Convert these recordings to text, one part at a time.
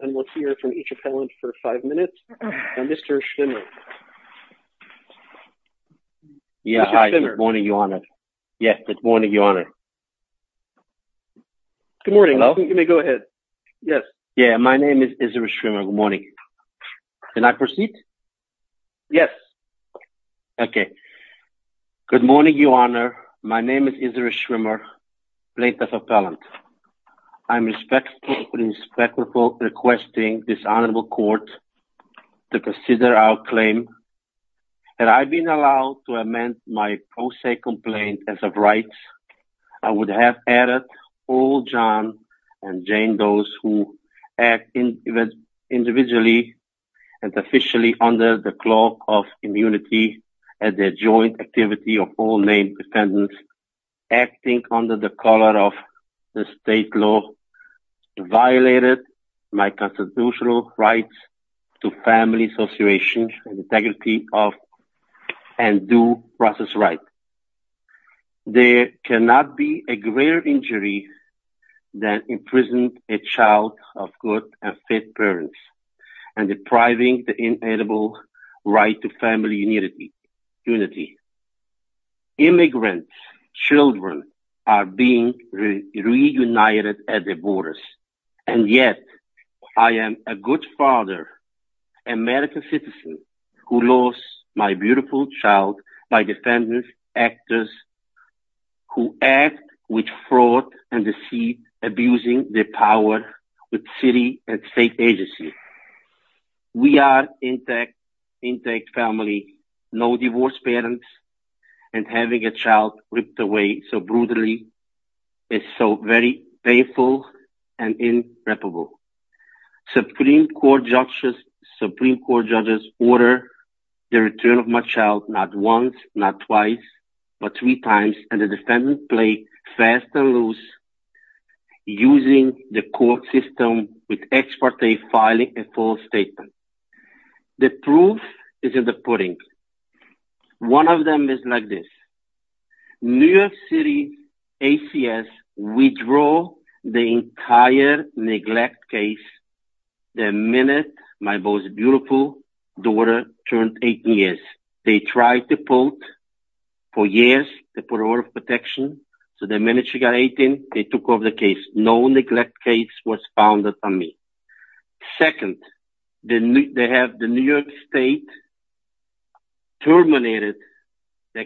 and we'll hear from each appellant for five minutes. Now, Mr. Schwimmer. Yeah, hi. Good morning, Your Honor. Yes, good morning, Your Honor. Good morning. You may go ahead. Yes. Yeah, my name is Isser Schwimmer. Good morning. Can I proceed? Yes. Okay. Good morning, Your Honor. My name is Isser Schwimmer, plaintiff appellant. I'm respectfully and respectfully requesting this honorable court to consider our claim. Had I been allowed to amend my pro se complaint as of rights, I would have added all John and Jane, those who act individually and officially under the clause of immunity as a joint activity of all named defendants acting under the color of the state law violated my constitutional rights to family association integrity of and due process rights. There cannot be a greater injury than imprisoning a child of good and fit parents and depriving the inalienable right to family unity. Immigrant children are being reunited at the borders. And yet I am a good father, American citizen who lost my beautiful child by defendant actors who act with fraud and deceive, abusing the power with city and state agency. We are intact, intact family, no divorce parents and having a child ripped away so brutally is so very painful and irreparable. Supreme Court judges order the return of my child not once, not twice, but three times. And the defendant play fast and loose using the court system with ex parte filing a false statement. The proof is in the pudding. One of them is like this. New York City ACS withdraw the entire neglect case the minute my most beautiful daughter turned 18 years. They tried to put for years to put order of protection. So the minute she got 18, they took over the case. No neglect case was founded on me. Second, they have the New York State terminated the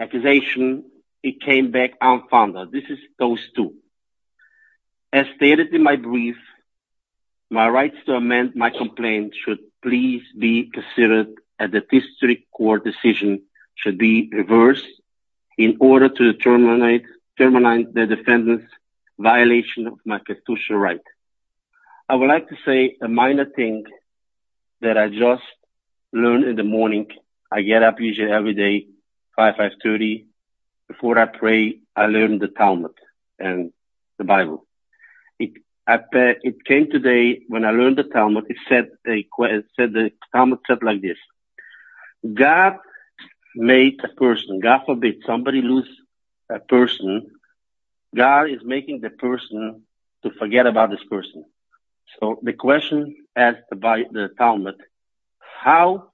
accusation. It came back unfounded. This is those two. As stated in my brief, my rights to amend my complaint should please be considered at the district court decision should be reversed in order to terminate the defendant's violation of my constitutional right. I would like to say a minor thing that I just learned in the morning. I get up usually every day, 5, 530. Before I pray, I learned the Talmud and the Bible. It came today when I learned the Talmud. It said the Talmud said like this. God made a person. God forbid somebody lose a person. God is making the person to forget about this person. So the question asked by the Talmud, how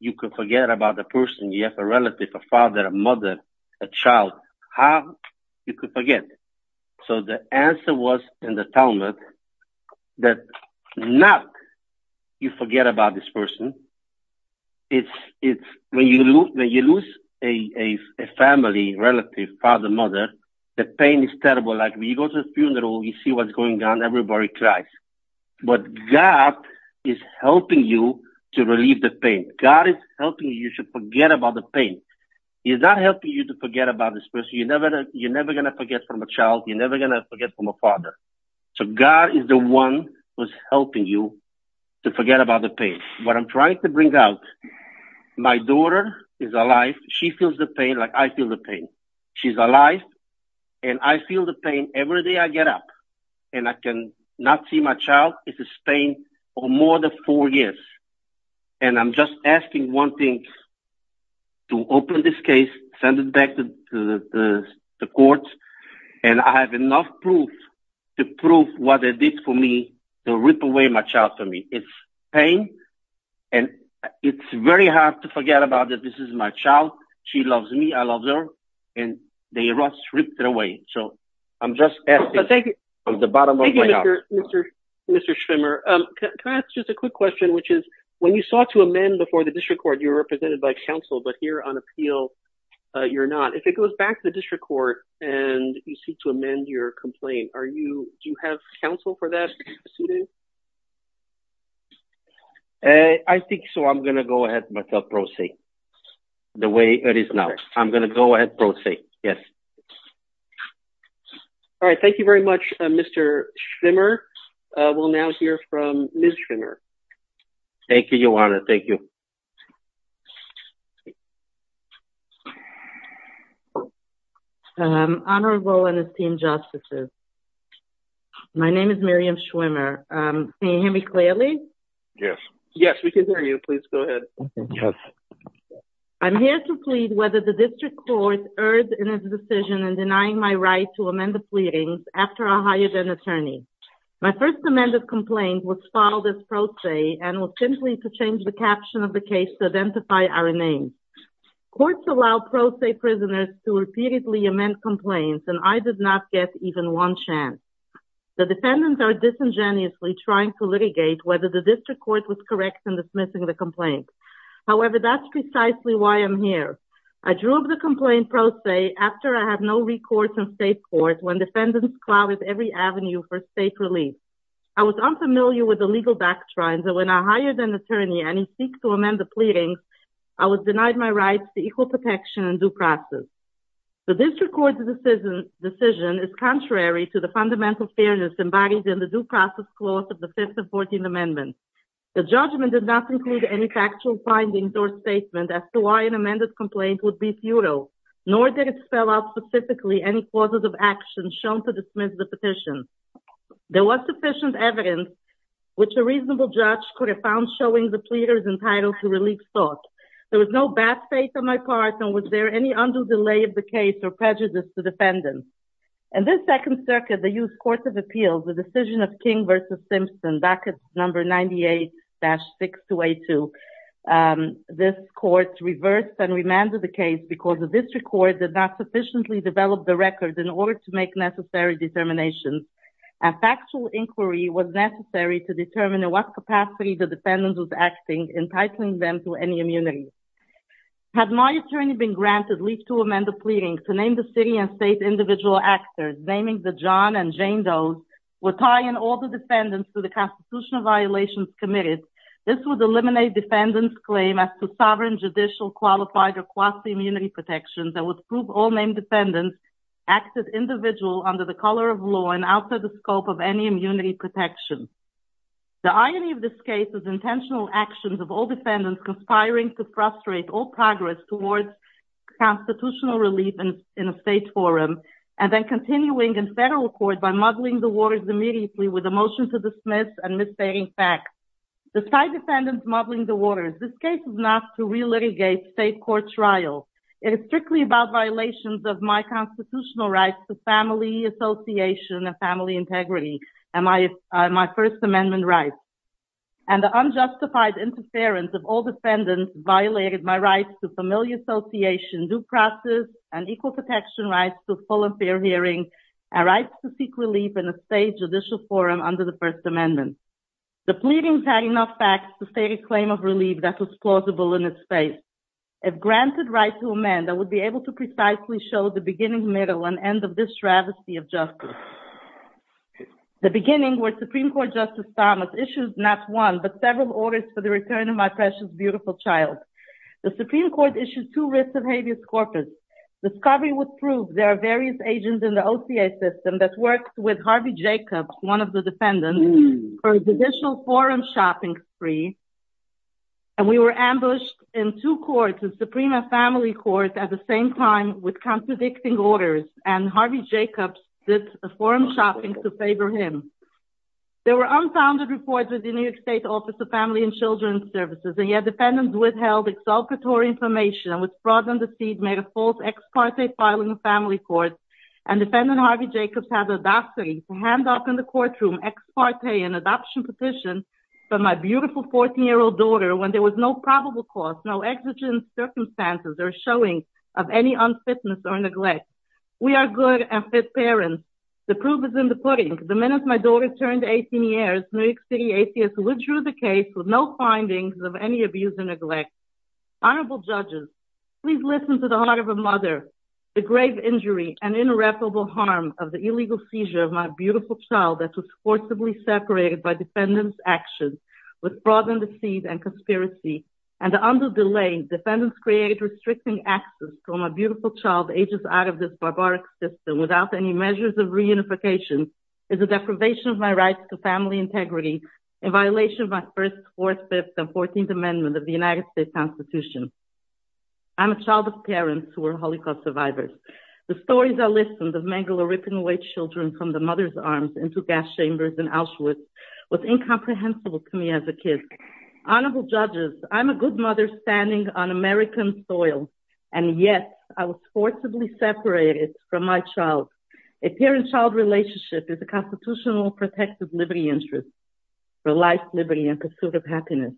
you could forget about the person? You have a relative, a father, a mother, a child. How you could forget? So the answer was in the Talmud that not you forget about this person. It's when you lose a family, relative, father, mother, the pain is terrible. Like when you go to a funeral, you see what's going on, everybody cries. But God is helping you to relieve the pain. God is helping you to forget about the pain. He's not helping you to forget about this person. You're never going to forget from a child. You're never going to forget from a father. So God is the one who's helping you to forget about the pain. What I'm trying to bring out, my daughter is alive. She feels the pain like I feel the pain. She's alive, and I feel the pain every day I get up. And I cannot see my child. It's this pain for more than four years. And I'm just asking one thing to open this case, send it back to the courts, and I have enough proof to prove what they did for me to rip away my child from me. It's pain, and it's very hard to forget about that this is my child. She loves me. I love her. And they ripped it away. So I'm just asking from the bottom of my heart. Thank you, Mr. Schwimmer. Can I ask just a quick question, which is when you sought to amend before the district court, you were represented by counsel, but here on appeal you're not. If it goes back to the district court and you seek to amend your complaint, do you have counsel for that? I think so. I'm going to go ahead and proceed the way it is now. I'm going to go ahead and proceed, yes. All right, thank you very much, Mr. Schwimmer. We'll now hear from Ms. Schwimmer. Thank you, Ioana. Thank you. Honorable and esteemed justices, my name is Miriam Schwimmer. Can you hear me clearly? Yes. Yes, we can hear you. Please go ahead. Yes. I'm here to plead whether the district court erred in its decision in denying my right to amend the pleadings after I hired an attorney. My first amended complaint was filed as pro se and was simply to change the caption of the case to identify our name. Courts allow pro se prisoners to repeatedly amend complaints, and I did not get even one chance. The defendants are disingenuously trying to litigate whether the district court was correct in dismissing the complaint. However, that's precisely why I'm here. I drew up the complaint pro se after I had no recourse in state court when defendants clobbered every avenue for state relief. I was unfamiliar with the legal doctrines, and when I hired an attorney and he seeked to amend the pleadings, I was denied my rights to equal protection and due process. The district court's decision is contrary to the fundamental fairness embodied in the due process clause of the Fifth and Fourteenth Amendments. The judgment did not include any factual findings or statement as to why an amended complaint would be futile, nor did it spell out specifically any causes of action shown to dismiss the petition. There was sufficient evidence which a reasonable judge could have found showing the pleaders entitled to relief sought. There was no bad faith on my part, and was there any undue delay of the case or prejudice to defendants. In the Second Circuit, the U.S. Court of Appeals, the decision of King v. Simpson back at No. 98-6282, this court reversed and remanded the case because the district court did not sufficiently develop the record in order to make necessary determinations. A factual inquiry was necessary to determine at what capacity the defendant was acting, entitling them to any immunity. Had my attorney been granted leave to amend the pleading to name the city and state individual actors, naming the John and Jane Doe's would tie in all the defendants to the constitutional violations committed. This would eliminate defendants' claim as to sovereign, judicial, qualified, or quasi-immunity protections and would prove all named defendants acted individual under the color of law and outside the scope of any immunity protection. The irony of this case is intentional actions of all defendants conspiring to frustrate all progress towards constitutional relief in a state forum and then continuing in federal court by muddling the waters immediately with a motion to dismiss and misbehaving facts. Despite defendants muddling the waters, this case is not to re-litigate state court trials. It is strictly about violations of my constitutional rights to family association and family integrity and my First Amendment rights. And the unjustified interference of all defendants violated my rights to family association due process and equal protection rights to full and fair hearing and rights to seek relief in a state judicial forum under the First Amendment. The pleadings had enough facts to state a claim of relief that was plausible in its face. If granted right to amend, I would be able to precisely show the beginning, middle, and end of this travesty of justice. The beginning where Supreme Court Justice Thomas issued not one but several orders for the return of my precious beautiful child. The Supreme Court issued two writs of habeas corpus. Discovery would prove there are various agents in the OCA system that worked with Harvey Jacobs, one of the defendants, for judicial forum shopping spree. And we were ambushed in two courts, the Supreme Family Court at the same time with contradicting orders. And Harvey Jacobs did forum shopping to favor him. There were unfounded reports with the New York State Office of Family and Children's Services. And yet defendants withheld exaltatory information and with fraud and deceit made a false ex parte filing of family court. And defendant Harvey Jacobs had the audacity to hand up in the courtroom ex parte an adoption petition for my beautiful 14-year-old daughter when there was no probable cause, no exigent circumstances or showing of any unfitness or neglect. We are good and fit parents. The proof is in the pudding. The minute my daughter turned 18 years, New York City ACS withdrew the case with no findings of any abuse or neglect. Honorable judges, please listen to the heart of a mother. The grave injury and irreparable harm of the illegal seizure of my beautiful child that was forcibly separated by defendants' actions with fraud and deceit and conspiracy and the undue delay defendants created restricting access for my beautiful child ages out of this barbaric system without any measures of reunification is a deprivation of my rights to family integrity in violation of my 1st, 4th, 5th and 14th amendments of the United States Constitution. I'm a child of parents who were Holocaust survivors. The stories I listened of men who were ripping away children from the mother's arms into gas chambers in Auschwitz was incomprehensible to me as a kid. Honorable judges, I'm a good mother standing on American soil. And yet I was forcibly separated from my child. A parent-child relationship is a constitutional protective liberty interest for life, liberty and pursuit of happiness.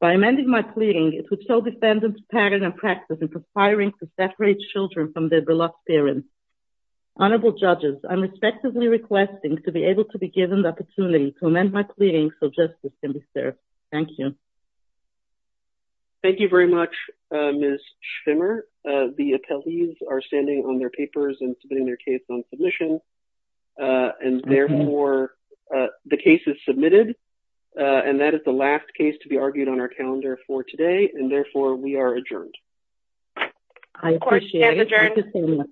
By amending my clearing, it would show defendants' pattern and practice in perspiring to separate children from their beloved parents. Honorable judges, I'm respectfully requesting to be able to be given the opportunity to amend my clearing so justice can be served. Thank you. Thank you very much, Ms. Schwimmer. The appellees are standing on their papers and submitting their case on submission. And, therefore, the case is submitted. And that is the last case to be argued on our calendar for today. And, therefore, we are adjourned. I appreciate it. Adjourned.